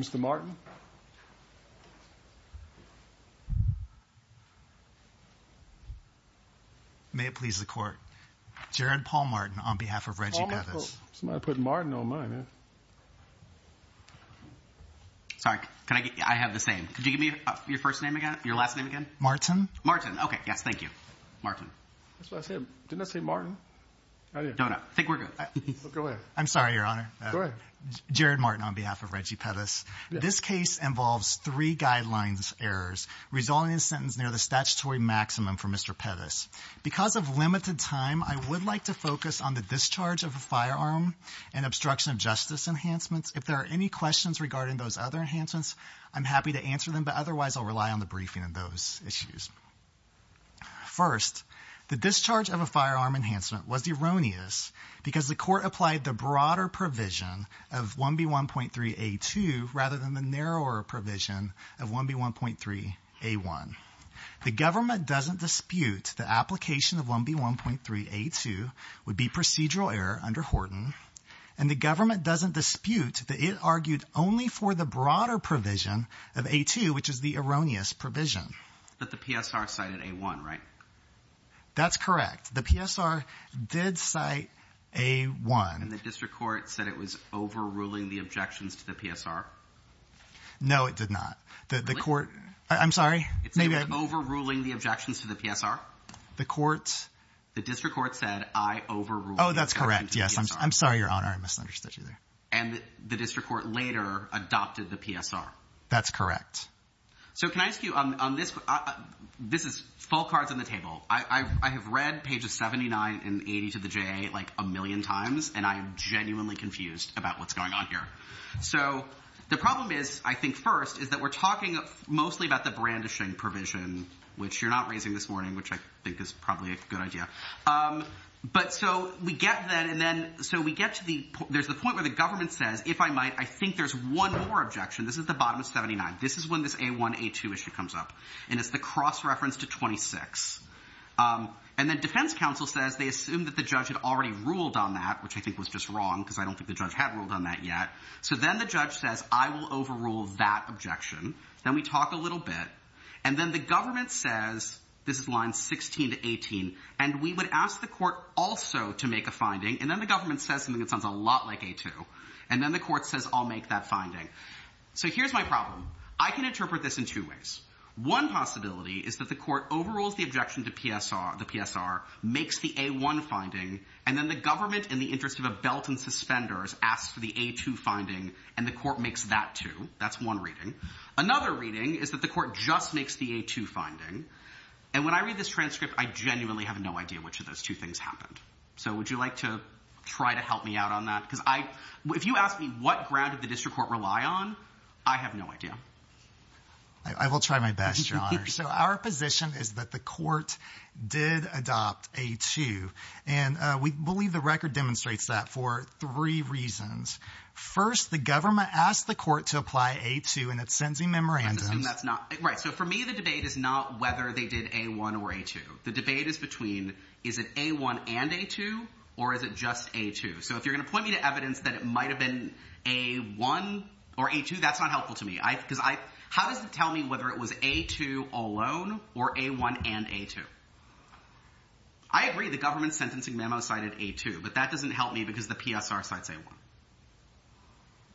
Mr. Martin May it please the court. Jared Paul Martin on behalf of Reggie Pettus. Somebody put Martin on mine. Sorry, I have the same. Could you give me your first name again? Your last name again? Martin. Martin. Okay, yes, thank you. Martin. That's what I said. Didn't I say Martin? No, no. I think we're good. I'm sorry, Your Honor. Mr. Pettus, this case involves three guidelines errors resulting in a sentence near the statutory maximum for Mr. Pettus. Because of limited time, I would like to focus on the discharge of a firearm and obstruction of justice enhancements. If there are any questions regarding those other enhancements, I'm happy to answer them, but otherwise I'll rely on the briefing on those issues. First, the discharge of a firearm enhancement was due rather than the narrower provision of 1B1.3A1. The government doesn't dispute the application of 1B1.3A2 would be procedural error under Horton, and the government doesn't dispute that it argued only for the broader provision of A2, which is the erroneous provision. But the PSR cited A1, right? That's correct. The PSR did cite A1. And the district court said it was overruling the objections to the PSR? No, it did not. The court... I'm sorry? It said it was overruling the objections to the PSR? The court? The district court said I overruled the objections to the PSR. Oh, that's correct. Yes. I'm sorry, Your Honor. I misunderstood you there. And the district court later adopted the PSR? That's correct. So can I ask you, on this, this is full cards on the table. I have read pages 79 and 80 to the JA like a million times, and I am genuinely confused about what's going on here. So the problem is, I think first, is that we're talking mostly about the brandishing provision, which you're not raising this morning, which I think is probably a good idea. But so we get then, and then, so we get to the, there's the point where the government says, if I might, I think there's one more objection. This is the bottom of 79. This is when this A1, A2 issue comes up. And it's the cross-reference to 26. And then defense counsel says they assume that the judge had already ruled on that, which I think was just wrong, because I don't think the judge had ruled on that yet. So then the judge says, I will overrule that objection. Then we talk a little bit. And then the government says, this is line 16 to 18, and we would ask the court also to make a finding. And then the government says something that sounds a lot like A2. And then the court says, I'll my problem. I can interpret this in two ways. One possibility is that the court overrules the objection to the PSR, makes the A1 finding, and then the government, in the interest of a belt and suspenders, asks for the A2 finding, and the court makes that too. That's one reading. Another reading is that the court just makes the A2 finding. And when I read this transcript, I genuinely have no idea which of those two things happened. So would you like to try to help me out on that? Because I, if you ask me what ground did the district court rely on, I have no idea. I will try my best, your honor. So our position is that the court did adopt A2, and we believe the record demonstrates that for three reasons. First, the government asked the court to apply A2, and it sends me memorandums. Right. So for me, the debate is not whether they did A1 or A2. The debate is between is it A1 and A2, or is it just A2? So if you're going to point me to evidence that it might've been A1 or A2, that's not helpful to me. How does it tell me whether it was A2 alone or A1 and A2? I agree the government's sentencing memo cited A2, but that doesn't help me because the PSR cites A1.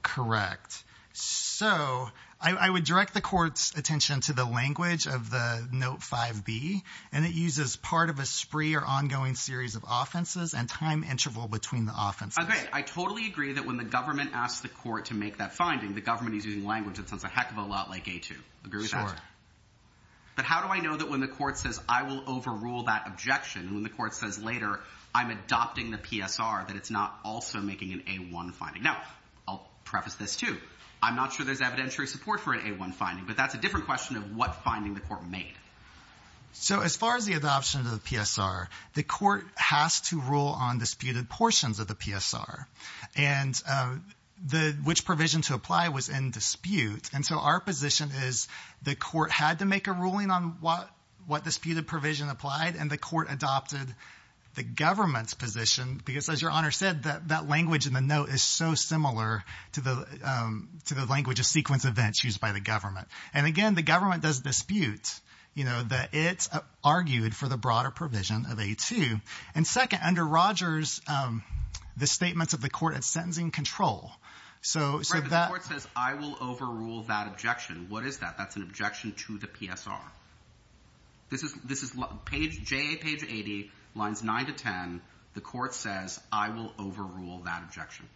Correct. So I would direct the court's attention to the language of the Note 5B, and it uses part of a spree or ongoing series of offenses and time interval between the offenses. I totally agree that when the government asks the court to make that finding, the government is using language that sounds a heck of a lot like A2. Agree with that? Sure. But how do I know that when the court says, I will overrule that objection, and when the court says later, I'm adopting the PSR, that it's not also making an A1 finding? Now, I'll preface this too. I'm not sure there's evidentiary support for an A1 finding, but that's a different question of what finding the court made. So as far as the adoption of the PSR, the court has to rule on disputed portions of the PSR, and which provision to apply was in dispute. And so our position is the court had to make a ruling on what disputed provision applied, and the court adopted the government's position, because as your Honor said, that language in the note is so similar to the language of sequence used by the government. And again, the government does dispute that it argued for the broader provision of A2. And second, under Rogers, the statements of the court at sentencing control. Right, but the court says, I will overrule that objection. What is that? That's an objection to the PSR. This is JA page 80, lines 9 to 10. The court says, I will overrule that objection.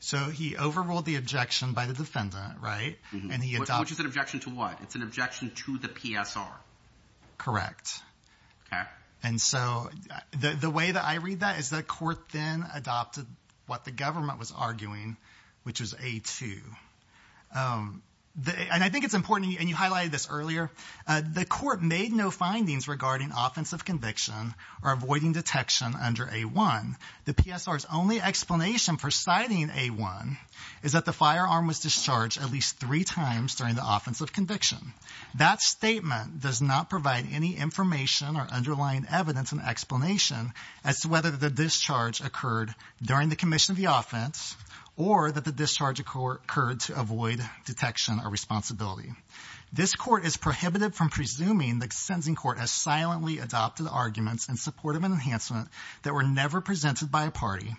So he overruled the objection by the defendant, right? Which is an objection to what? It's an objection to the PSR. Correct. Okay. And so the way that I read that is the court then adopted what the government was arguing, which is A2. And I think it's important, and you highlighted this earlier, the court made no findings regarding offensive conviction or avoiding detection under A1. The PSR's only explanation for citing A1 is that the firearm was discharged at least three times during the offensive conviction. That statement does not provide any information or underlying evidence and explanation as to whether the discharge occurred during the commission of the offense, or that the discharge occurred to avoid detection or responsibility. This court is prohibited from presuming the sentencing court has silently adopted arguments in support of an PSR never presented by a party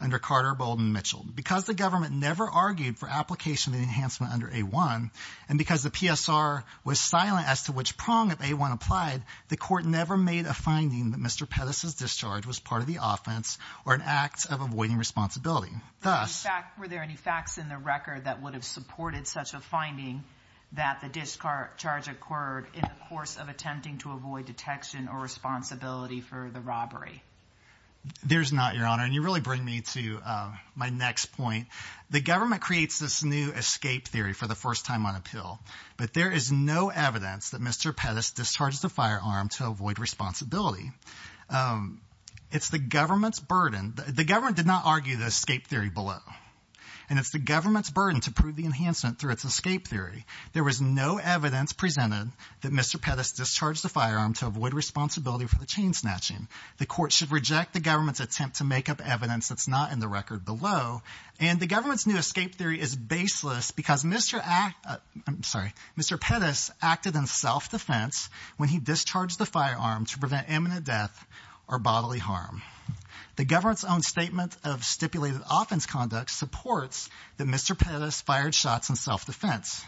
under Carter, Bolden, Mitchell. Because the government never argued for application and enhancement under A1, and because the PSR was silent as to which prong of A1 applied, the court never made a finding that Mr. Pettis's discharge was part of the offense or an act of avoiding responsibility. Were there any facts in the record that would have supported such a finding that the discharge occurred in the course of attempting to avoid detection or responsibility for the robbery? There's not, Your Honor, and you really bring me to my next point. The government creates this new escape theory for the first time on appeal, but there is no evidence that Mr. Pettis discharged the firearm to avoid responsibility. It's the government's burden. The government did not argue the escape theory below, and it's the government's burden to prove the enhancement through its escape theory. There was no evidence presented that Mr. Pettis discharged the firearm to avoid responsibility for the chain snatching. The court should reject the government's attempt to make up evidence that's not in the record below, and the government's new escape theory is baseless because Mr. Pettis acted in self-defense when he discharged the firearm to prevent imminent death or bodily harm. The government's own statement of stipulated offense conduct supports that Mr. Pettis fired shots in self-defense.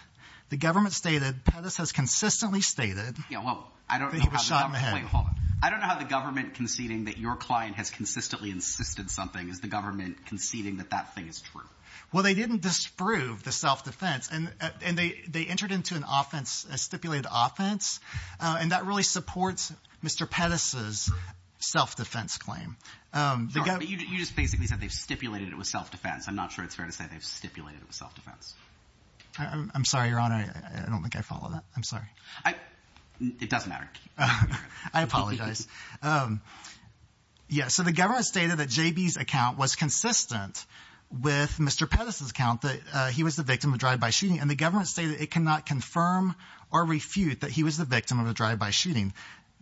The government stated Pettis has consistently stated that he was shot in the head. I don't know how the government conceding that your client has consistently insisted something is the government conceding that that thing is true. Well, they didn't disprove the self-defense, and they entered into an offense, a stipulated offense, and that really supports Mr. Pettis's self-defense claim. You just basically said they've stipulated it was self-defense. I'm not sure it's fair to say they've stipulated it was self-defense. I'm sorry, Your Honor. I don't think I follow that. I'm sorry. It doesn't matter. I apologize. Yeah, so the government stated that JB's account was consistent with Mr. Pettis's account that he was the victim of drive-by shooting, and the government stated it cannot confirm or refute that he was the victim of a drive-by shooting.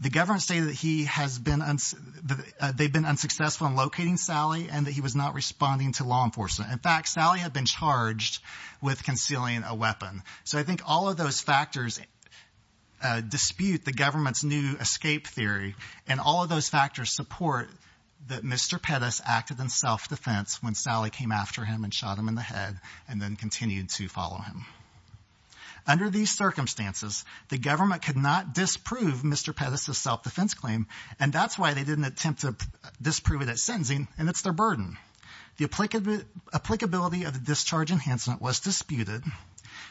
The government stated that they've been unsuccessful in locating Sally and that he was not responding to law enforcement. In fact, Sally had been charged with concealing a weapon. So I think all of those factors dispute the government's new escape theory, and all of those factors support that Mr. Pettis acted in self-defense when Sally came after him and shot him in the head and then continued to follow him. Under these circumstances, the government could not disprove Mr. Pettis's self-defense claim, and that's why they didn't attempt to disprove it at sentencing, and it's their burden. The applicability of the discharge enhancement was disputed,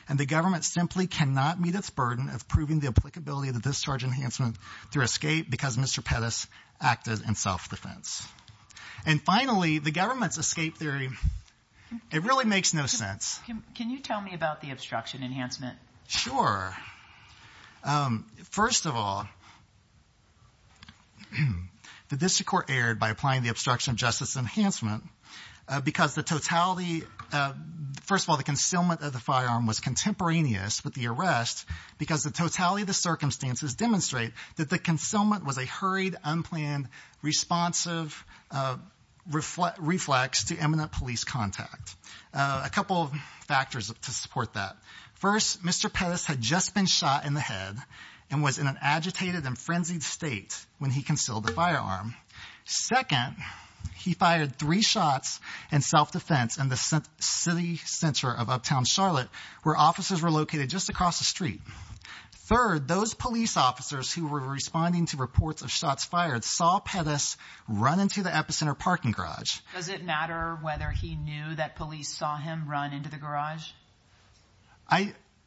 and the government simply cannot meet its burden of proving the applicability of the discharge enhancement through escape because Mr. Pettis acted in self-defense. And finally, the government's escape theory, it really makes no sense. Can you tell me about the obstruction enhancement? Sure. First of all, the district court erred by applying the obstruction of justice enhancement because the totality, first of all, the concealment of the firearm was contemporaneous with the arrest because the totality of the circumstances demonstrate that the concealment was a hurried, unplanned, responsive reflex to imminent police contact. A couple of factors to support that. First, Mr. Pettis had just been shot in the head and was in an agitated and frenzied state when he concealed the firearm. Second, he fired three shots in self-defense in the city center of uptown Charlotte, where officers were located just across the street. Third, those police officers who were responding to reports of shots fired saw Pettis run into the epicenter parking garage. Does it matter whether he knew that police saw him run into the garage?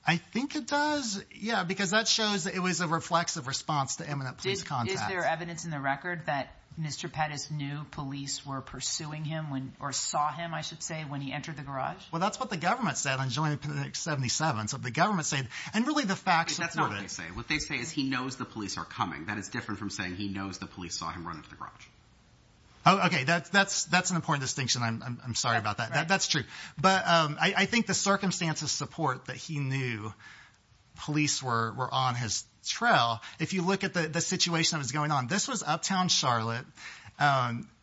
I think it does, yeah, because that shows it was a reflexive response to imminent police contact. Is there evidence in the record that Mr. Pettis knew police were pursuing him or saw him, I should say, when he entered the garage? Well, that's what the government said on July the 77th. So the government said, and really the facts of it. That's not what they say. What they say is he knows the police are coming. That is different from saying he knows the police saw him run into the garage. Okay, that's an important distinction. I'm sorry about that. That's true. But I think the circumstances support that he knew police were on his trail. If you look at the situation that was going on, this was uptown Charlotte,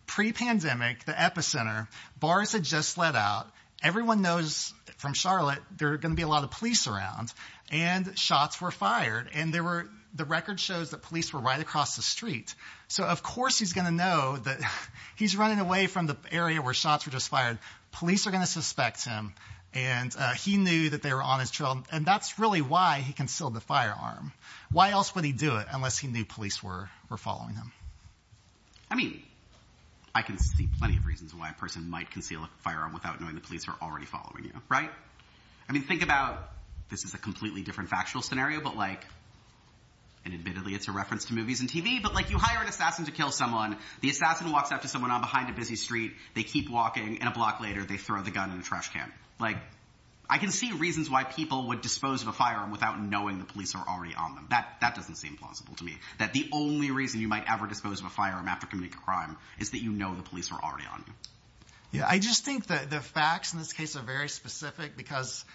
pre-pandemic, the epicenter. Bars had just let out. Everyone knows from Charlotte there are going to be a lot of police around, and shots were fired. And the record shows that police were right across the street. So of course he's going to know that he's running away from the area where shots were just fired. Police are going to suspect him. And he knew that they were on his trail. And that's really why he concealed the firearm. Why else would he do it unless he knew police were following him? I mean, I can see plenty of reasons why a person might conceal a firearm without knowing the police are already following you, right? I mean, think about, this is a completely different factual scenario. But like, and admittedly, it's a reference to movies and TV. But like, you hire an assassin to kill someone. The assassin walks up to someone on behind a busy street. They keep walking. And a block later, they throw the gun in the trash can. Like, I can see reasons why people would dispose of a firearm without knowing the police are already on them. That doesn't seem plausible to me. That the only reason you might ever dispose of a firearm after committing a crime is that you know the police are already on you. Yeah, I just think that the facts in this case are very specific because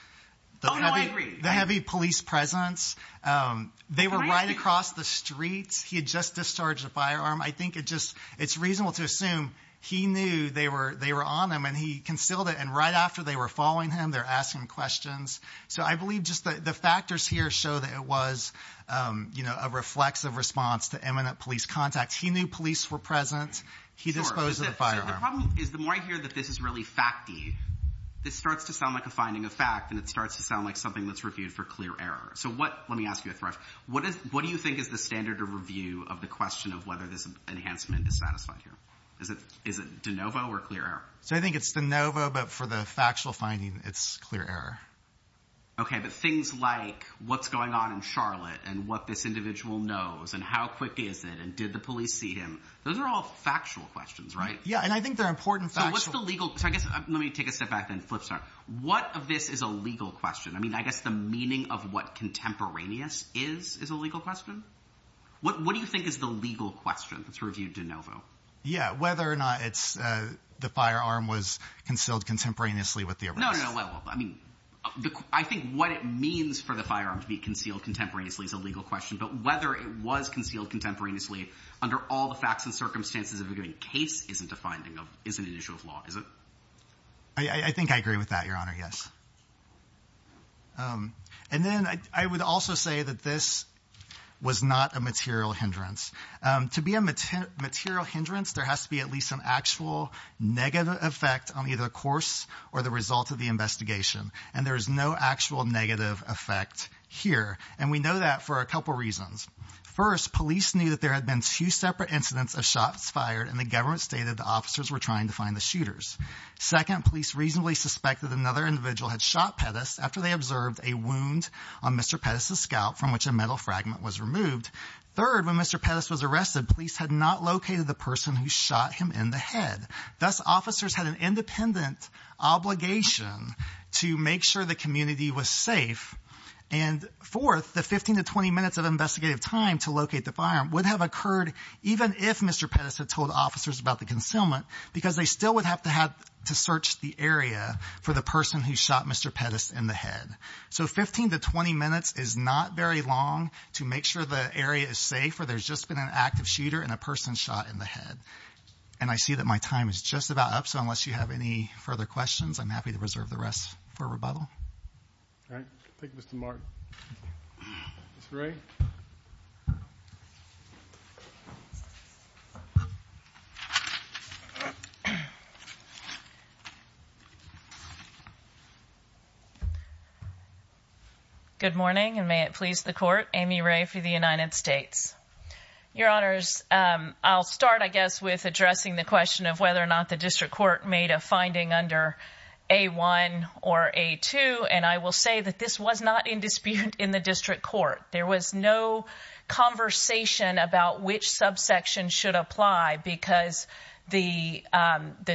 the heavy police presence, they were right across the streets. He had just discharged a firearm. I think it's reasonable to assume he knew they were on him and he concealed it. And right after they were following him, they're asking questions. So I believe just the factors here show that it was, you know, a reflexive response to imminent police contact. He knew police were present. He disposed of the firearm. The problem is, the more I hear that this is really fact-y, this starts to sound like a finding of fact. And it starts to sound like something that's reviewed for clear error. So what, let me ask you a thrush, what do you think is the standard of the question of whether this enhancement is satisfied here? Is it de novo or clear error? So I think it's de novo, but for the factual finding, it's clear error. Okay. But things like what's going on in Charlotte and what this individual knows and how quick is it? And did the police see him? Those are all factual questions, right? Yeah. And I think they're important facts. So what's the legal, so I guess, let me take a step back and flip start. What of this is a legal question? I mean, I guess the meaning of what contemporaneous is, is a legal question. What do you think is the legal question that's reviewed de novo? Yeah. Whether or not it's the firearm was concealed contemporaneously with the arrest. No, no, no. I mean, I think what it means for the firearm to be concealed contemporaneously is a legal question, but whether it was concealed contemporaneously under all the facts and circumstances of a given case isn't a finding of, isn't an issue of law, is it? I think I agree with that, Your Honor. Yes. And then I would also say that this was not a material hindrance. To be a material hindrance, there has to be at least some actual negative effect on either the course or the result of the investigation. And there is no actual negative effect here. And we know that for a couple of reasons. First, police knew that there had been two separate incidents of shots fired and the government stated the officers were trying to find the shooters. Second, police reasonably suspected another individual had shot Pettis after they observed a wound on Mr. Pettis' scalp from which a metal fragment was removed. Third, when Mr. Pettis was arrested, police had not located the person who shot him in the head. Thus, officers had an independent obligation to make sure the community was safe. And fourth, the 15 to 20 minutes of investigative time to locate the firearm would have occurred even if Mr. Pettis had told officers about the concealment because they still would have to have to search the area for the person who shot Mr. Pettis in the head. So 15 to 20 minutes is not very long to make sure the area is safe or there's just been an active shooter and a person shot in the head. And I see that my time is just about up, so unless you have any further questions, I'm happy to reserve the rest for rebuttal. All right. Thank you, Mr. Martin. Ms. Ray? Good morning, and may it please the Court. Amy Ray for the United States. Your Honors, I'll start, I guess, with addressing the question of whether or not the District Court made a that this was not in dispute in the District Court. There was no conversation about which subsection should apply because the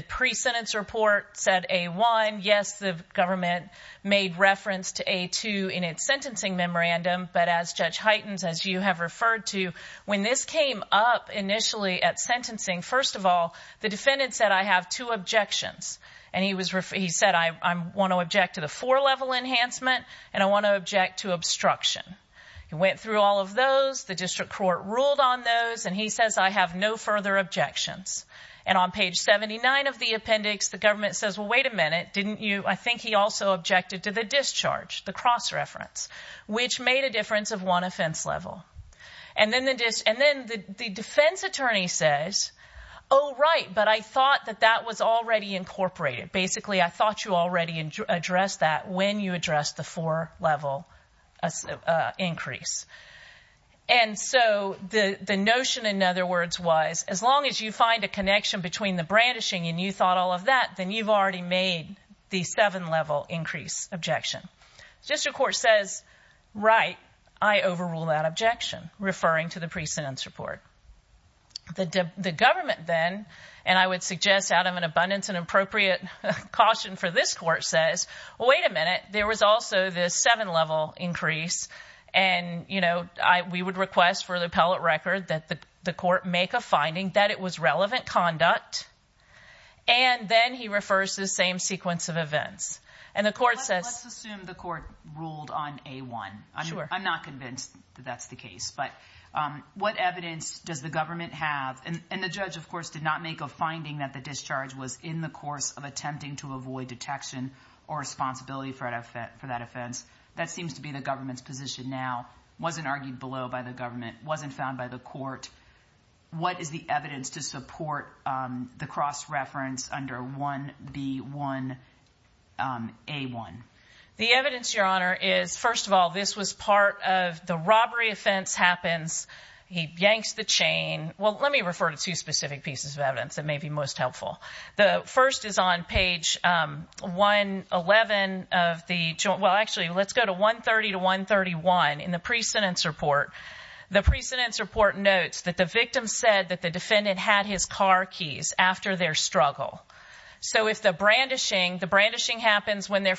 pre-sentence report said A-1. Yes, the government made reference to A-2 in its sentencing memorandum, but as Judge Heitens, as you have referred to, when this came up initially at sentencing, first of all, the defendant said, I have two objections. And he said, I want to object to the four-level enhancement, and I want to object to obstruction. He went through all of those. The District Court ruled on those, and he says, I have no further objections. And on page 79 of the appendix, the government says, well, wait a minute, didn't you, I think he also objected to the discharge, the cross-reference, which made a difference of one offense level. And then the defense attorney says, oh, right, but I thought that that was already incorporated. Basically, I thought you already addressed that when you addressed the four-level increase. And so the notion, in other words, was as long as you find a connection between the brandishing and you thought all of that, then you've already made the seven-level increase objection. District Court says, right, I overrule that objection, referring to the pre-sentence report. The government then, and I would suggest out of an abundance and appropriate caution for this court, says, well, wait a minute, there was also this seven-level increase. And, you know, we would request for the appellate record that the court make a finding that it was relevant conduct. And then he refers to the same sequence of events. And the court says... And the judge, of course, did not make a finding that the discharge was in the course of attempting to avoid detection or responsibility for that offense. That seems to be the government's position now. Wasn't argued below by the government. Wasn't found by the court. What is the evidence to support the cross-reference under 1B1A1? The evidence, Your Honor, is, first of all, this was part of the robbery offense happens. He yanks the chain. Well, let me refer to two specific pieces of evidence that may be most helpful. The first is on page 111 of the... Well, actually, let's go to 130 to 131 in the pre-sentence report. The pre-sentence report notes that the victim said that the defendant had his car keys after their struggle. So if the brandishing, the brandishing happens when they're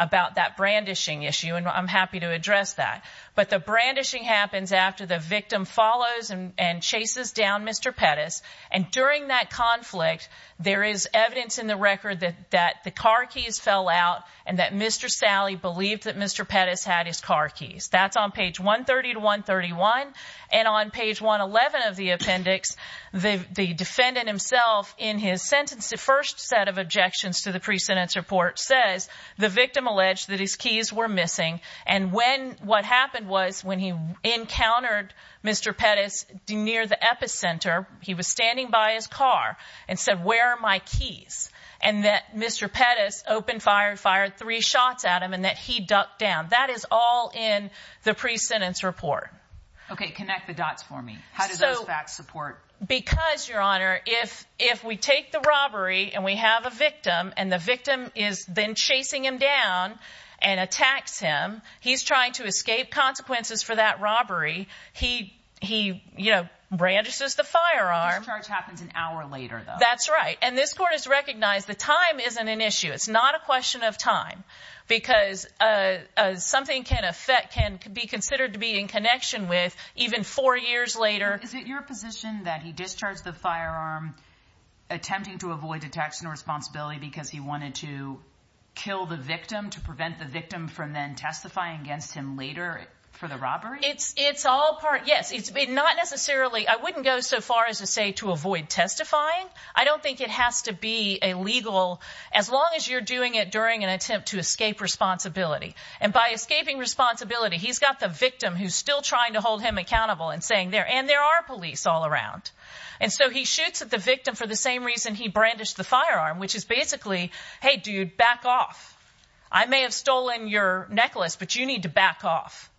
about that brandishing issue. And I'm happy to address that. But the brandishing happens after the victim follows and chases down Mr. Pettis. And during that conflict, there is evidence in the record that the car keys fell out and that Mr. Sally believed that Mr. Pettis had his car keys. That's on page 130 to 131. And on page 111 of the appendix, the defendant himself in his sentence, first set of objections to the pre-sentence report says the victim alleged that his keys were missing. And when, what happened was when he encountered Mr. Pettis near the epicenter, he was standing by his car and said, where are my keys? And that Mr. Pettis opened fire, fired three shots at him and that he ducked down. That is all in the pre-sentence report. Okay. Connect the dots for me. How does that support? Because your honor, if, if we take the robbery and we have a victim and the victim is then chasing him down and attacks him, he's trying to escape consequences for that robbery. He, he, you know, brandishes the firearm. The discharge happens an hour later though. That's right. And this court has recognized the time isn't an issue. It's not a question of time because, uh, uh, something can affect, can be considered to be in connection with even four years later. Is it your position that he discharged the firearm attempting to avoid attacks and responsibility because he wanted to kill the victim to prevent the victim from then testify against him later for the robbery? It's, it's all part. Yes. It's not necessarily, I wouldn't go so far as to say to avoid testifying. I don't think it has to be a legal, as long as you're doing it during an attempt to escape responsibility and by escaping responsibility, he's got the victim who's still trying to hold him accountable and saying there, and there are police all around. And so he shoots at the victim for the same reason he brandished the firearm, which is basically, Hey dude, back off. I may have stolen your necklace, but you need to back off.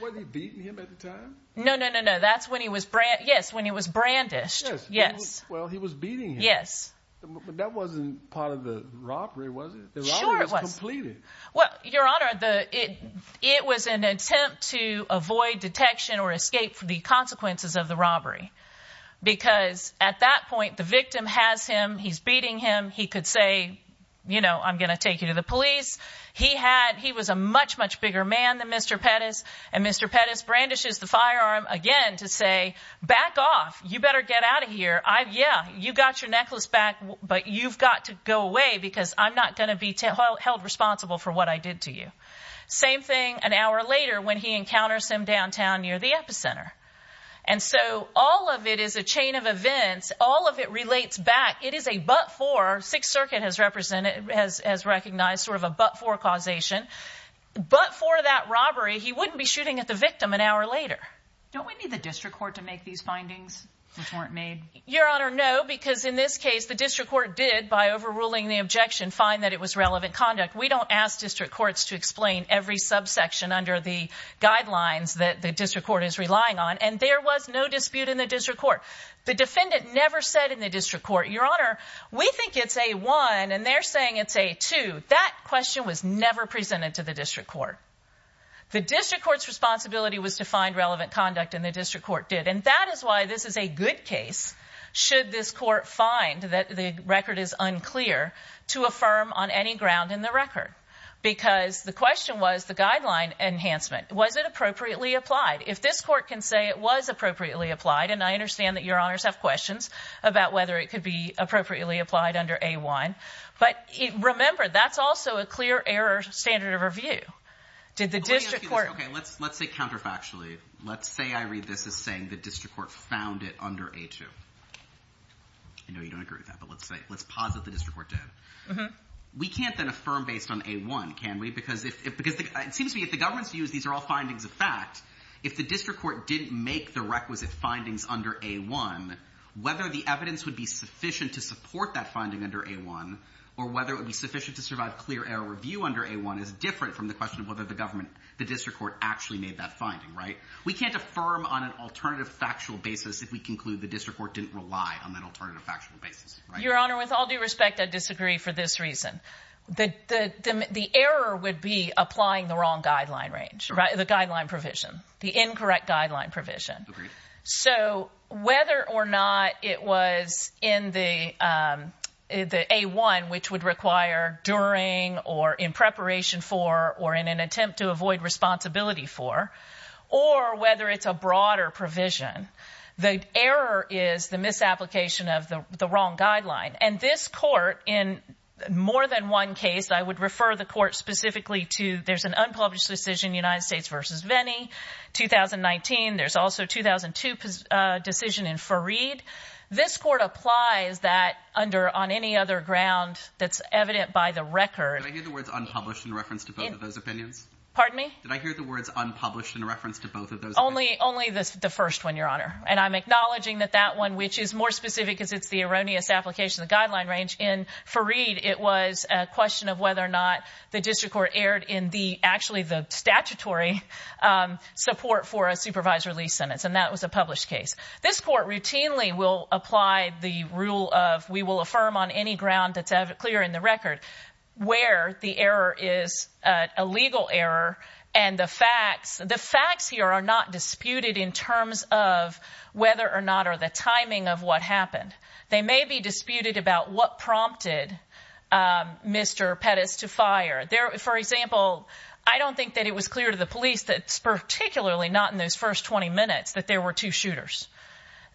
Was he beating him at the time? No, no, no, no. That's when he was brand. Yes. When he was brandished. Yes. Well, he was beating. Yes. But that wasn't part of the robbery. Was it? It was completed. Well, your honor, the, it, it was an attempt to avoid detection or escape for the consequences of the robbery. Because at that point, the victim has him, he's beating him. He could say, you know, I'm going to take you to the police. He had, he was a much, much bigger man than Mr. Pettis. And Mr. Pettis brandishes the firearm again to say, back off. You better get out of here. I've yeah, you got your necklace back, but you've got to go away because I'm not going to be held responsible for what I did to you. Same thing an hour later, when he encounters him downtown near the epicenter. And so all of it is a chain of events. All of it relates back. It is a, but for sixth circuit has represented, has, has recognized sort of a, but for causation, but for that robbery, he wouldn't be shooting at the victim an hour later. Don't we need the district court to make these findings which weren't made? Your honor. No, because in this case, the district court did by overruling the objection, find that it was relevant conduct. We don't ask district courts to explain every subsection under the guidelines that the district court is relying on. And there was no dispute in the district court. The defendant never said in the district court, your honor, we think it's a one and they're saying it's a two. That question was never presented to the district court. The district court's responsibility was to find relevant conduct in the district court did. And that is why this is a good should this court find that the record is unclear to affirm on any ground in the record, because the question was the guideline enhancement. Was it appropriately applied? If this court can say it was appropriately applied. And I understand that your honors have questions about whether it could be appropriately applied under a wine, but remember, that's also a clear error standard of review. Did the district court. Okay. Let's, let's say counterfactually, let's say I read this as saying the district court found it under a two. I know you don't agree with that, but let's say, let's posit the district court did. We can't then affirm based on a one. Can we? Because if, because it seems to me if the government's views, these are all findings of fact, if the district court didn't make the requisite findings under a one, whether the evidence would be sufficient to support that finding under a one, or whether it would be sufficient to survive clear error review under a one is different from the question of whether the government, the district court actually made that finding, right? We can't affirm on an alternative factual basis. If we conclude the district court didn't rely on that alternative factual basis. Your honor, with all due respect, I disagree for this reason. The, the, the error would be applying the wrong guideline range, the guideline provision, the incorrect guideline provision. So whether or not it was in the, um, the a one, which would require during, or in preparation for, or in an attempt to avoid responsibility for, or whether it's a broader provision, the error is the misapplication of the, the wrong guideline. And this court in more than one case, I would refer the court specifically to, there's an unpublished decision, United States versus Vennie 2019. There's also 2002 decision in Farid. This court applies that under on any other ground that's evident by the record. Unpublished in reference to both of those opinions. Pardon me? Did I hear the words unpublished in reference to both of those? Only, only this, the first one, your honor. And I'm acknowledging that that one, which is more specific because it's the erroneous application of the guideline range in Farid. It was a question of whether or not the district court aired in the, actually the statutory, um, support for a supervisor lease sentence. And that was a published case. This court routinely will apply the rule of, we will affirm on any ground that's clear in the record where the error is a legal error. And the facts, the facts here are not disputed in terms of whether or not, or the timing of what happened. They may be disputed about what prompted Mr. Pettis to fire there. For example, I don't think that it was clear to the police that's particularly not in those first 20 minutes that there were two shooters.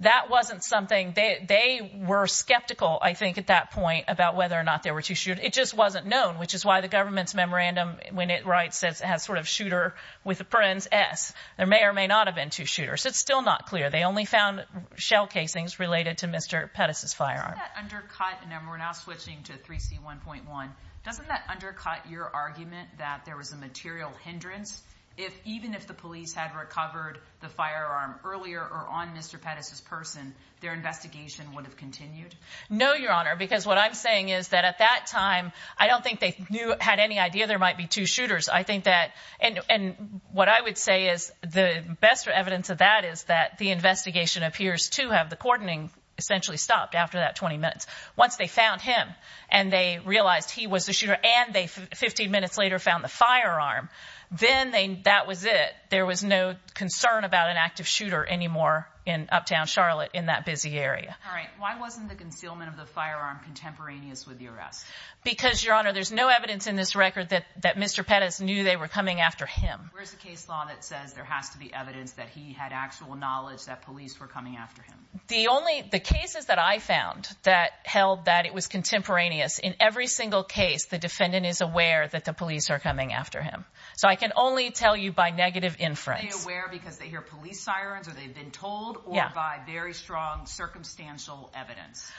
That wasn't something they, they were skeptical, I think, at that point about whether or not there were two shooters. It just wasn't known, which is why the government's memorandum, when it writes, says it has sort of shooter with a parens S. There may or may not have been two shooters. It's still not clear. They only found shell casings related to Mr. Pettis' firearm. Doesn't that undercut, and then we're now switching to 3C1.1, doesn't that undercut your argument that there was a material hindrance if, even if the police had recovered the firearm earlier or on Mr. Pettis' person, their investigation would have continued? No, Your Honor, because what I'm saying is that at that time, I don't think they knew, had any idea there might be two shooters. I think that, and what I would say is the best evidence of that is that the investigation appears to have the coordinating essentially stopped after that 20 minutes. Once they found him and they realized he was the shooter and they 15 minutes later found the firearm, then they, that was it. There was no concern about an active shooter anymore in Uptown Charlotte in that busy area. All right. Why wasn't the concealment of the firearm contemporaneous with the arrest? Because, Your Honor, there's no evidence in this record that, that Mr. Pettis knew they were coming after him. Where's the case law that says there has to be evidence that he had actual knowledge that police were coming after him? The only, the cases that I found that held that it was contemporaneous in every single case, the defendant is aware that the police are coming after him. So I can only tell you by negative inference. Are they aware because they hear police sirens or they've been told or by very strong circumstantial evidence?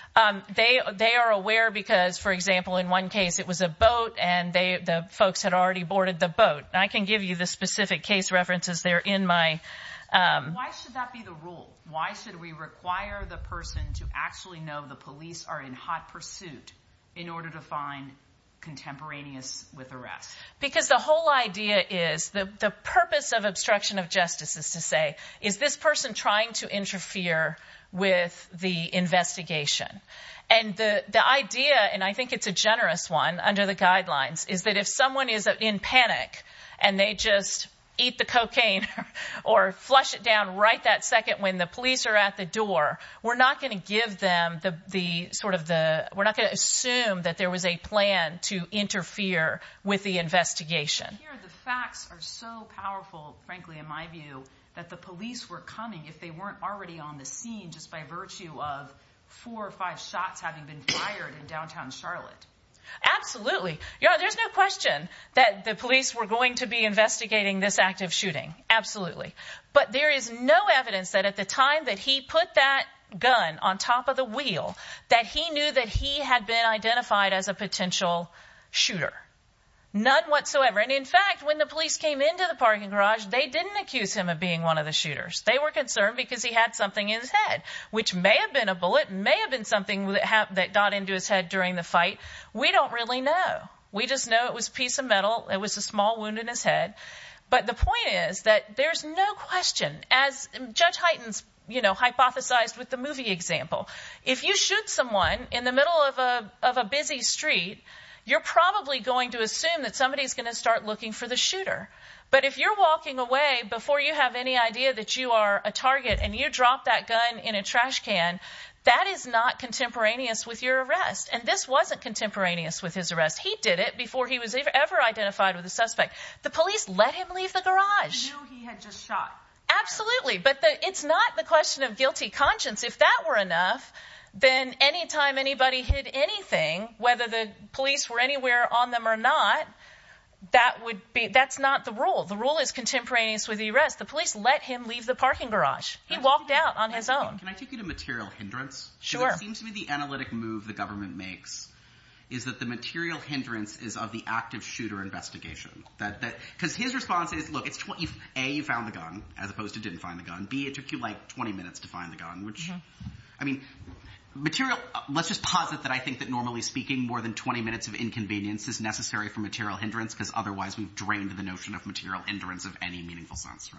They are aware because, for example, in one case it was a boat and they, the folks had already boarded the boat. I can give you the specific case references there in my... Why should that be the rule? Why should we require the person to actually know the police are in hot pursuit in order to find contemporaneous with arrest? Because the whole idea is, the purpose of obstruction of justice is to say, is this person trying to interfere with the investigation? And the idea, and I think it's a generous one under the guidelines, is that if someone is in panic and they just eat the cocaine or flush it down right that second when the police are at the door, we're not going to give them the sort of the, we're not going to assume that there was a plan to interfere with the investigation. Here the facts are so powerful, frankly, in my view, that the police were coming if they weren't already on the scene just by virtue of four or five shots having been fired in downtown Charlotte. Absolutely. There's no question that the police were going to be investigating this act of shooting. Absolutely. But there is no evidence that at the time that he put that gun on top of the wheel that he knew that he had been identified as a potential shooter. None whatsoever. And in fact, when the police came into the parking garage, they didn't accuse him of being one of the shooters. They were concerned because he had something in his head, which may have been a bullet, may have been something that happened that got into his head during the fight. We don't really know. We just know it was a piece of metal. It was a small wound in his head. But the point is that there's no question, as Judge Hyten hypothesized with the movie example, if you shoot someone in the middle of a of a busy street, you're probably going to assume that somebody is going to start looking for the shooter. But if you're walking away before you have any idea that you are a target and you drop that gun in a trash can, that is not contemporaneous with your arrest. And this wasn't contemporaneous with his arrest. He did it before he was ever identified with the suspect. The police let him leave the garage. He had just shot. Absolutely. But it's not the question of guilty conscience. If that were enough, then any time anybody hid anything, whether the police were anywhere on them or not, that would be that's not the rule. The rule is contemporaneous with the arrest. The police let him leave the parking garage. He walked out on his own. Can I take you to material hindrance? Sure. It seems to me the analytic move the government makes is that the material hindrance is of the active shooter investigation that because his response is, look, it's A, you found the gun as opposed to didn't find the gun. It took you like 20 minutes to find the gun. Let's just posit that I think that normally speaking, more than 20 minutes of inconvenience is necessary for material hindrance because otherwise we've drained the notion of material hindrance of any meaningful sense.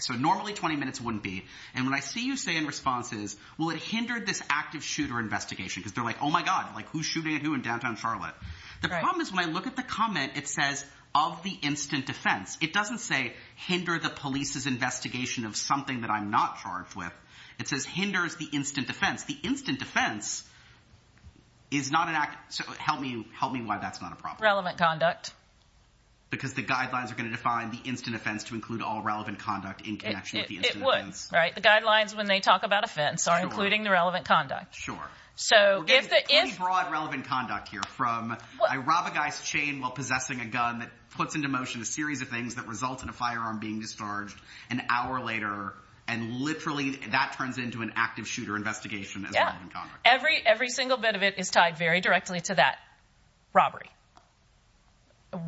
So normally 20 minutes wouldn't be. And when I see you say in responses, well, it hindered this active shooter investigation because they're like, oh my god, who's shooting at who in downtown Charlotte? The problem is when I look at the comment, it says of the instant defense. It doesn't say hinder the police's investigation of something that I'm not charged with. It says hinders the instant defense. The instant defense is not an act. So help me. Help me why that's not a problem. Relevant conduct. Because the guidelines are going to define the instant offense to include all relevant conduct in connection with the instant offense. It would, right? The guidelines when they talk about offense are including the relevant conduct. Sure. So we're getting pretty broad relevant conduct here from I rob a guy's chain while possessing a gun that puts into motion a series of things that result in a firearm being discharged an hour later. And literally, that turns into an active shooter investigation as relevant conduct. Every, every single bit of it is tied very directly to that robbery.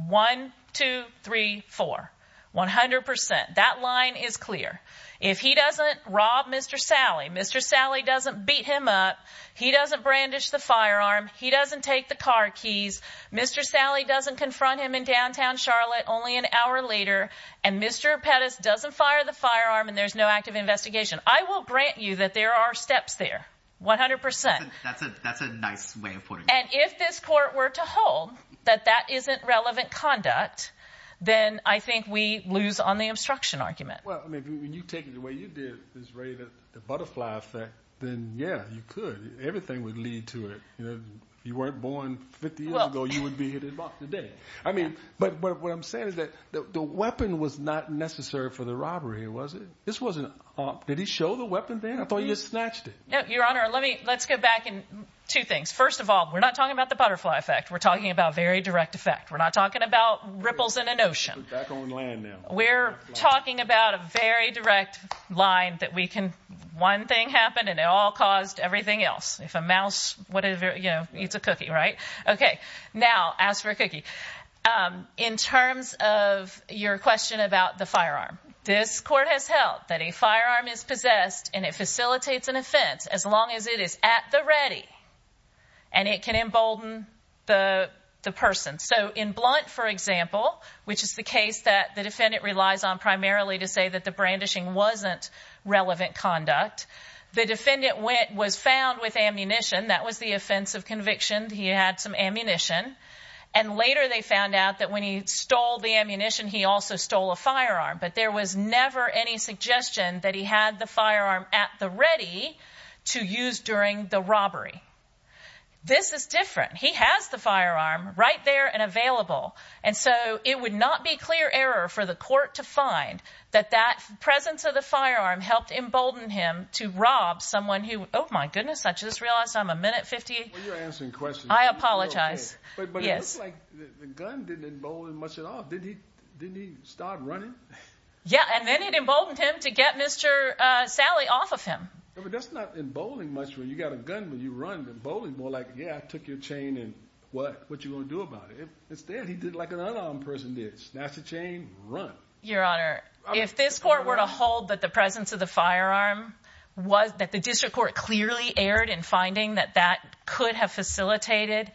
One, two, three, four, 100%. That line is clear. If he doesn't rob Mr. Sally, Mr. Sally doesn't beat him up. He doesn't brandish the firearm. He doesn't take the car keys. Mr. Sally doesn't confront him in downtown Charlotte. Only an hour later. And Mr. Pettis doesn't fire the firearm and there's no active investigation. I will grant you that there are steps there. 100%. That's a, that's a nice way of putting it. And if this court were to hold that, that isn't relevant conduct, then I think we lose on the obstruction argument. Well, I mean, when you take it the way you did this raven, the butterfly effect, then yeah, you could, everything would lead to it. You weren't born 50 years ago. You would be here today. I mean, but what I'm saying is that the weapon was not necessary for the robbery. It wasn't, this wasn't, did he show the weapon then? I thought you just snatched it. No, your honor. Let me, let's go back in two things. First of all, we're not talking about the butterfly effect. We're talking about very direct effect. We're not talking about ripples in an ocean. We're talking about a very direct line that we can, one thing happened and it all caused everything else. If a mouse, whatever, you know, eats a cookie, right? Okay. Now ask for a cookie. In terms of your question about the firearm, this court has held that a firearm is possessed and it facilitates an offense as long as it is at the ready and it can embolden the person. So in Blunt, for example, which is the case that the defendant relies on primarily to that the brandishing wasn't relevant conduct, the defendant went, was found with ammunition. That was the offense of conviction. He had some ammunition. And later they found out that when he stole the ammunition, he also stole a firearm, but there was never any suggestion that he had the firearm at the ready to use during the robbery. This is different. He has the firearm right there and available. And so it would not be clear error for the court to find that that presence of the firearm helped embolden him to rob someone who, Oh my goodness. I just realized I'm a minute 50. When you're answering questions. I apologize. But it looks like the gun didn't embolden much at all. Didn't he start running? Yeah. And then it emboldened him to get Mr. Sally off of him. But that's not emboldening much when you got a gun, when you run the bowling ball, like, yeah, I took your chain and what, what you going to do about it? Instead, he did like an unarmed person did snatch the chain run. Your honor. If this court were to hold that the presence of the firearm was that the district court clearly erred in finding that that could have facilitated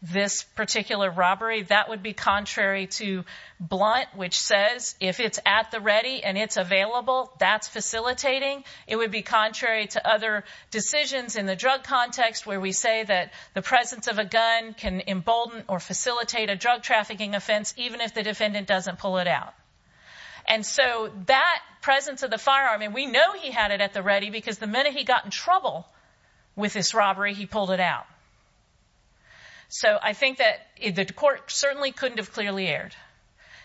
this particular robbery, that would be contrary to blunt, which says if it's at the ready and it's available, that's facilitating. It would be contrary to other decisions in the drug context where we say that the presence of a gun can embolden or facilitate a drug trafficking offense, even if the defendant doesn't pull it out. And so that presence of the firearm, and we know he had it at the ready because the minute he got in trouble with this robbery, he pulled it out. So I think that the court certainly couldn't have clearly aired.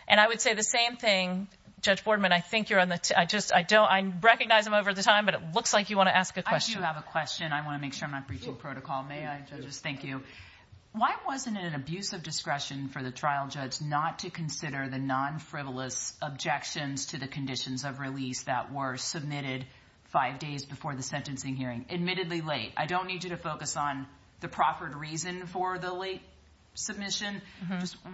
And I would say the same thing, Judge Boardman. I think you're on the, I just, I don't, I recognize him over the time, but it looks like you want to ask a question. I do have a question. I want to make sure I'm not breaching protocol. May I, judges? Thank you. Why wasn't it an abuse of discretion for the trial judge not to consider the non-frivolous objections to the conditions of release that were submitted five days before the sentencing hearing, admittedly late? I don't need you to focus on the proffered reason for the late submission.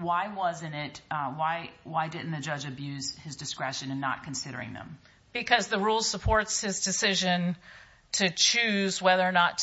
Why wasn't it, why didn't the judge abuse his discretion in not considering them? Because the rule supports his decision to choose whether or not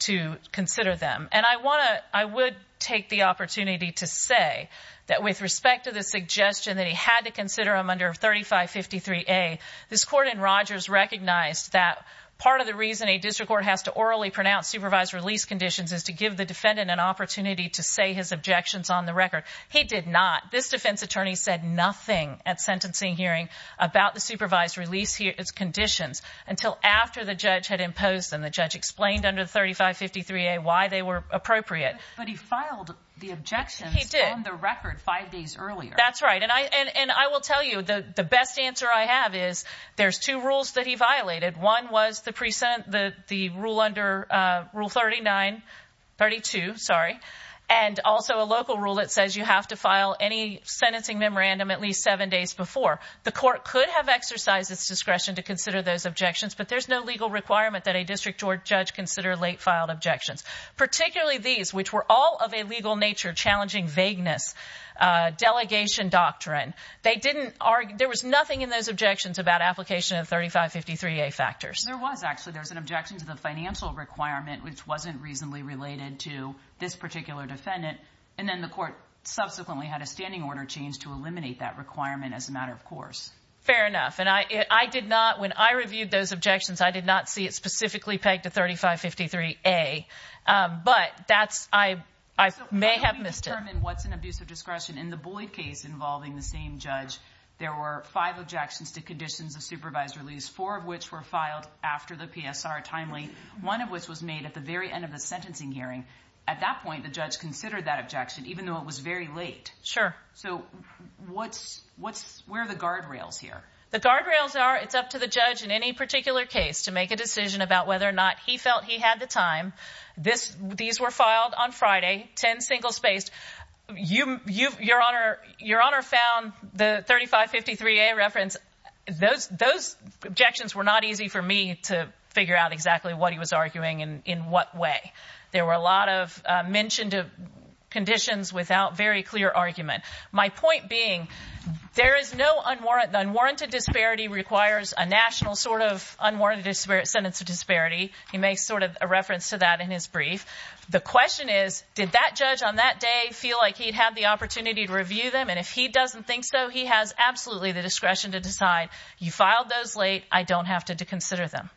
to consider them. And I want to, I would take the opportunity to say that with respect to the suggestion that he had to consider them under 3553A, this court in Rogers recognized that part of the reason a district court has to orally pronounce supervised release conditions is to give the defendant an opportunity to say his objections on the record. He did not. This defense attorney said nothing at sentencing hearing about the supervised release conditions until after the judge had imposed them. The judge explained under 3553A why they were appropriate. But he filed the objections on the record five days earlier. That's right. And I will tell you the best answer I have is there's two rules that he violated. One was the rule under rule 39, 32, sorry, and also a local rule that says you have to sentencing memorandum at least seven days before. The court could have exercised its discretion to consider those objections, but there's no legal requirement that a district court judge consider late filed objections, particularly these, which were all of a legal nature, challenging vagueness, delegation doctrine. They didn't argue, there was nothing in those objections about application of 3553A factors. There was actually, there was an objection to the financial requirement, which wasn't reasonably related to this particular defendant. And then the court subsequently had a standing order changed to eliminate that requirement as a matter of course. Fair enough. And I, I did not, when I reviewed those objections, I did not see it specifically pegged to 3553A, but that's, I, I may have missed it. So how do we determine what's an abuse of discretion in the Boyd case involving the same judge? There were five objections to conditions of supervised release, four of which were filed after the PSR timely, one of which was made at the very end of the sentencing hearing. At that point, the judge considered that objection, even though it was very late. Sure. So what's, what's, where are the guardrails here? The guardrails are, it's up to the judge in any particular case to make a decision about whether or not he felt he had the time. This, these were filed on Friday, 10 single spaced. You, you, your honor, your honor found the 3553A reference, those, those objections were not easy for me to figure out exactly what he was arguing and in what way. There were a lot of mentioned conditions without very clear argument. My point being, there is no unwarranted, unwarranted disparity requires a national sort of unwarranted sentence of disparity. He makes sort of a reference to that in his brief. The question is, did that judge on that day feel like he'd had the opportunity to review them? And if he doesn't think so, he has absolutely the discretion to decide, you filed those late, I don't have to consider them.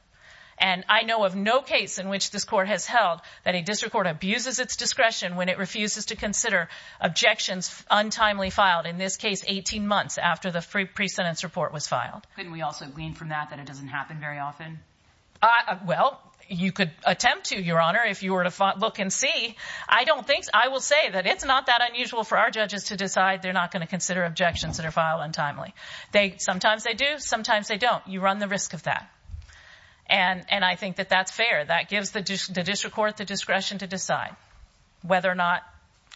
And I know of no case in which this court has held that a district court abuses its discretion when it refuses to consider objections untimely filed in this case, 18 months after the free pre-sentence report was filed. Couldn't we also glean from that, that it doesn't happen very often? Well, you could attempt to your honor, if you were to look and see, I don't think, I will say that it's not that unusual for our judges to decide they're not going to consider objections that are filed untimely. They, sometimes they do, sometimes they don't. You run the risk of that. And, and I think that that's fair. That gives the district court the discretion to decide whether or not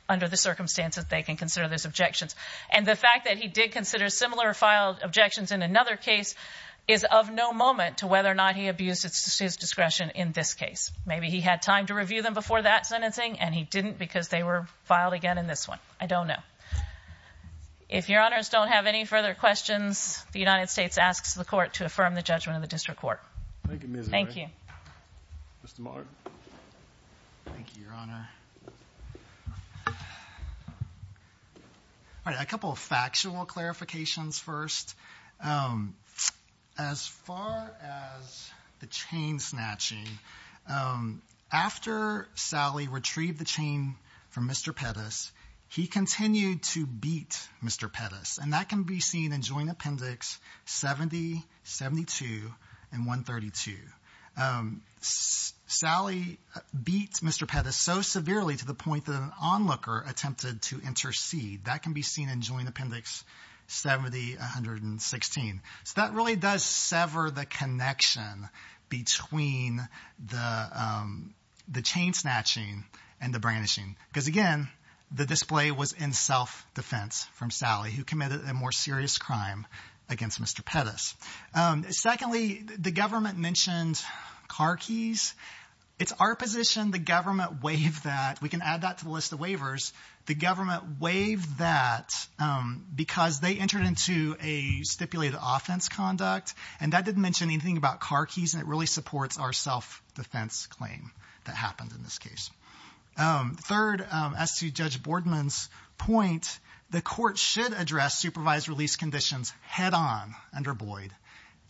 under the circumstances they can consider those objections. And the fact that he did consider similar filed objections in another case is of no moment to whether or not he abuses his discretion in this case. Maybe he had time to review them before that sentencing and he didn't because they were filed again in this one. I don't know. If your honors don't have any further questions, the United States asks the court to affirm the judgment of the district court. Thank you, Mr. Mark. Thank you, your honor. All right. A couple of factual clarifications first. As far as the chain snatching, after Sally retrieved the chain from Mr. Pettis, he continued to beat Mr. Pettis and that can be seen in joint appendix 70, 72 and 132. Um, Sally beats Mr. Pettis so severely to the point that an onlooker attempted to intercede. That can be seen in joint appendix 70, 116. So that really does sever the connection between the, um, the chain snatching and the brandishing. Because again, the display was in self-defense from Sally who committed a more serious crime against Mr. Pettis. Secondly, the government mentioned car keys. It's our position the government waived that. We can add that to the list of waivers. The government waived that because they entered into a stipulated offense conduct and that didn't mention anything about car keys and it really supports our self-defense claim that happened in this case. Third, as to Judge Boardman's point, the court should address supervised release conditions head on under Boyd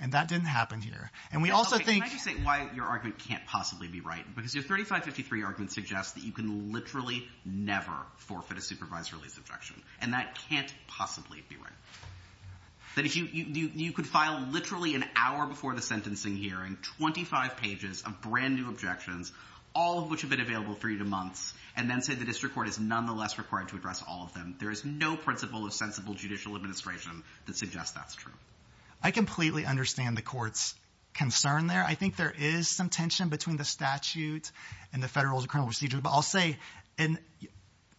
and that didn't happen here. And we also think... Can I just say why your argument can't possibly be right? Because your 3553 argument suggests that you can literally never forfeit a supervised release objection and that can't possibly be right. That if you, you, you could file literally an hour before the sentencing hearing, 25 pages of brand new objections, all of which have been available for you to months and then say the district court is nonetheless required to address all of them. There is no principle of sensible judicial administration that suggests that's true. I completely understand the court's concern there. I think there is some tension between the statute and the federal criminal procedure, but I'll say in,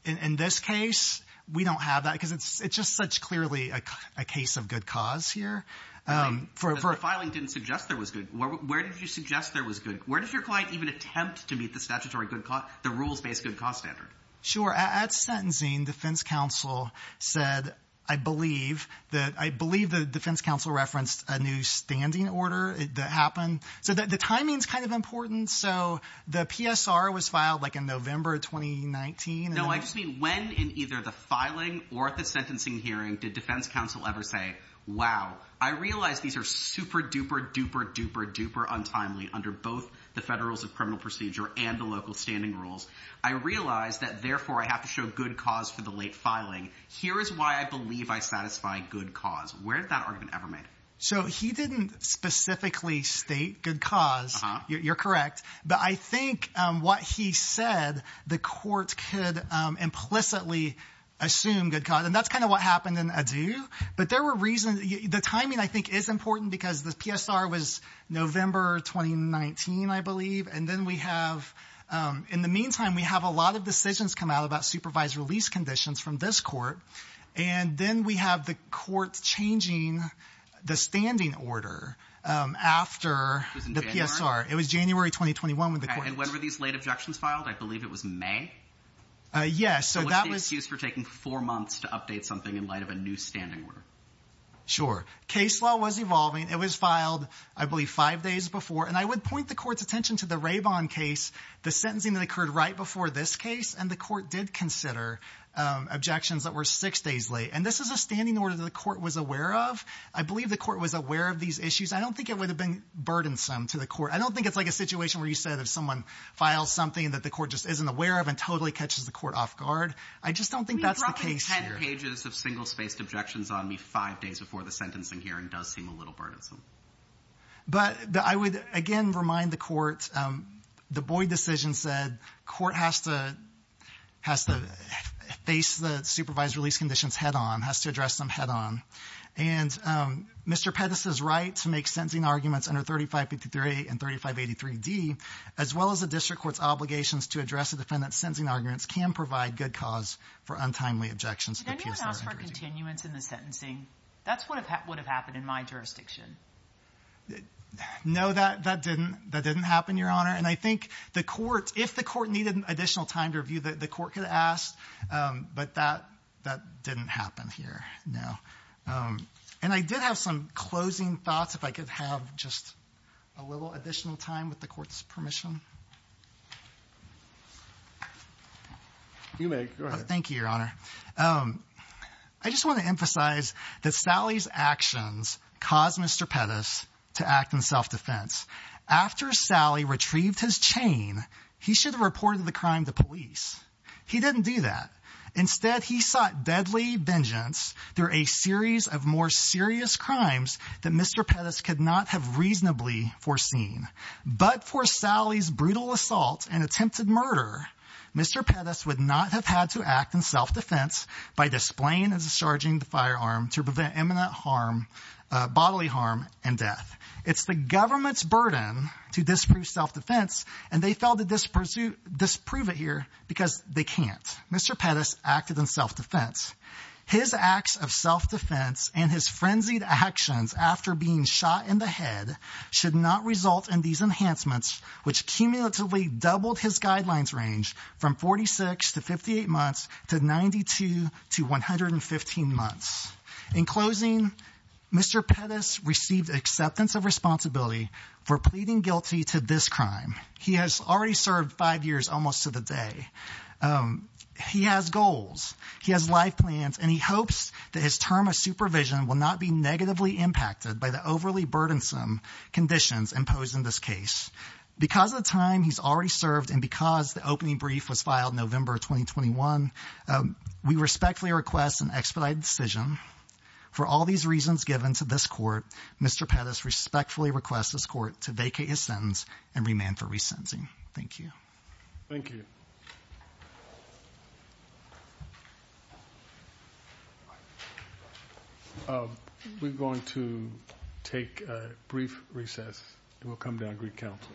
in this case, we don't have that because it's, it's just such clearly a case of good cause here. The filing didn't suggest there was good. Where did you suggest there was good? Where does your client even attempt to meet the statutory good cause, the rules-based good cause standard? Sure. At sentencing, defense counsel said, I believe that, I believe the defense counsel referenced a new standing order that happened. So the timing's kind of important. So the PSR was filed like in November of 2019. No, I just mean when in either the filing or at the sentencing hearing did defense counsel ever say, wow, I realized these are super duper, duper, duper, duper untimely under both the federals of criminal procedure and the local standing rules. I realized that therefore I have to show good cause for the late filing. Here is why I believe I satisfy good cause. Where did that argument ever made? So he didn't specifically state good cause. You're correct. But I think what he said, the court could implicitly assume good cause. And that's kind of what happened in Adu. But there were reasons, the timing I think is important because the PSR was November 2019, I believe. And then we have in the meantime, we have a lot of decisions come out about supervised release conditions from this court. And then we have the court changing the standing order after the PSR. It was January 2021 with the court. And when were these late objections filed? I believe it was May. Yes. So that was used for taking four months to update something in light of a new standing order. Sure. Case law was evolving. It was filed, I believe, five days before. I would point the court's attention to the Raybon case, the sentencing that occurred right before this case. And the court did consider objections that were six days late. And this is a standing order that the court was aware of. I believe the court was aware of these issues. I don't think it would have been burdensome to the court. I don't think it's like a situation where you said if someone files something that the court just isn't aware of and totally catches the court off guard. I just don't think that's the case here. You dropped 10 pages of single-spaced objections on me five days before the sentencing hearing does seem a little burdensome. But I would, again, remind the court, the Boyd decision said court has to face the supervised release conditions head-on, has to address them head-on. And Mr. Pettis' right to make sentencing arguments under 3553A and 3583D, as well as the district court's obligations to address the defendant's sentencing arguments, can provide good cause for untimely objections to the PSR. Did anyone ask for continuance in the sentencing? That's what would have happened in my jurisdiction. No, that didn't. That didn't happen, Your Honor. And I think the court, if the court needed additional time to review, the court could ask, but that didn't happen here. No. And I did have some closing thoughts, if I could have just a little additional time with the court's permission. You may, go ahead. Thank you, Your Honor. I just want to emphasize that Sally's actions caused Mr. Pettis to act in self-defense. After Sally retrieved his chain, he should have reported the crime to police. He didn't do that. Instead, he sought deadly vengeance through a series of more serious crimes that Mr. Pettis could not have reasonably foreseen. But for Sally's brutal assault and attempted murder, Mr. Pettis would not have had to act in self-defense by displaying and discharging the firearm to prevent imminent bodily harm and death. It's the government's burden to disprove self-defense, and they failed to disprove it here because they can't. Mr. Pettis acted in self-defense. His acts of self-defense and his frenzied actions after being shot in the head should not result in these enhancements, which cumulatively doubled his guidelines range from 46 to 58 months to 92 to 115 months. In closing, Mr. Pettis received acceptance of responsibility for pleading guilty to this crime. He has already served five years almost to the day. He has goals. He has life plans, and he hopes that his term of supervision will not be negatively impacted by the overly burdensome conditions imposed in this case. Because of the time he's already served and because the opening brief was filed November 2021, we respectfully request an expedited decision. For all these reasons given to this court, Mr. Pettis respectfully requests this court to vacate his sentence and remand for resentencing. Thank you. Thank you. We're going to take a brief recess. We'll come back with counsel.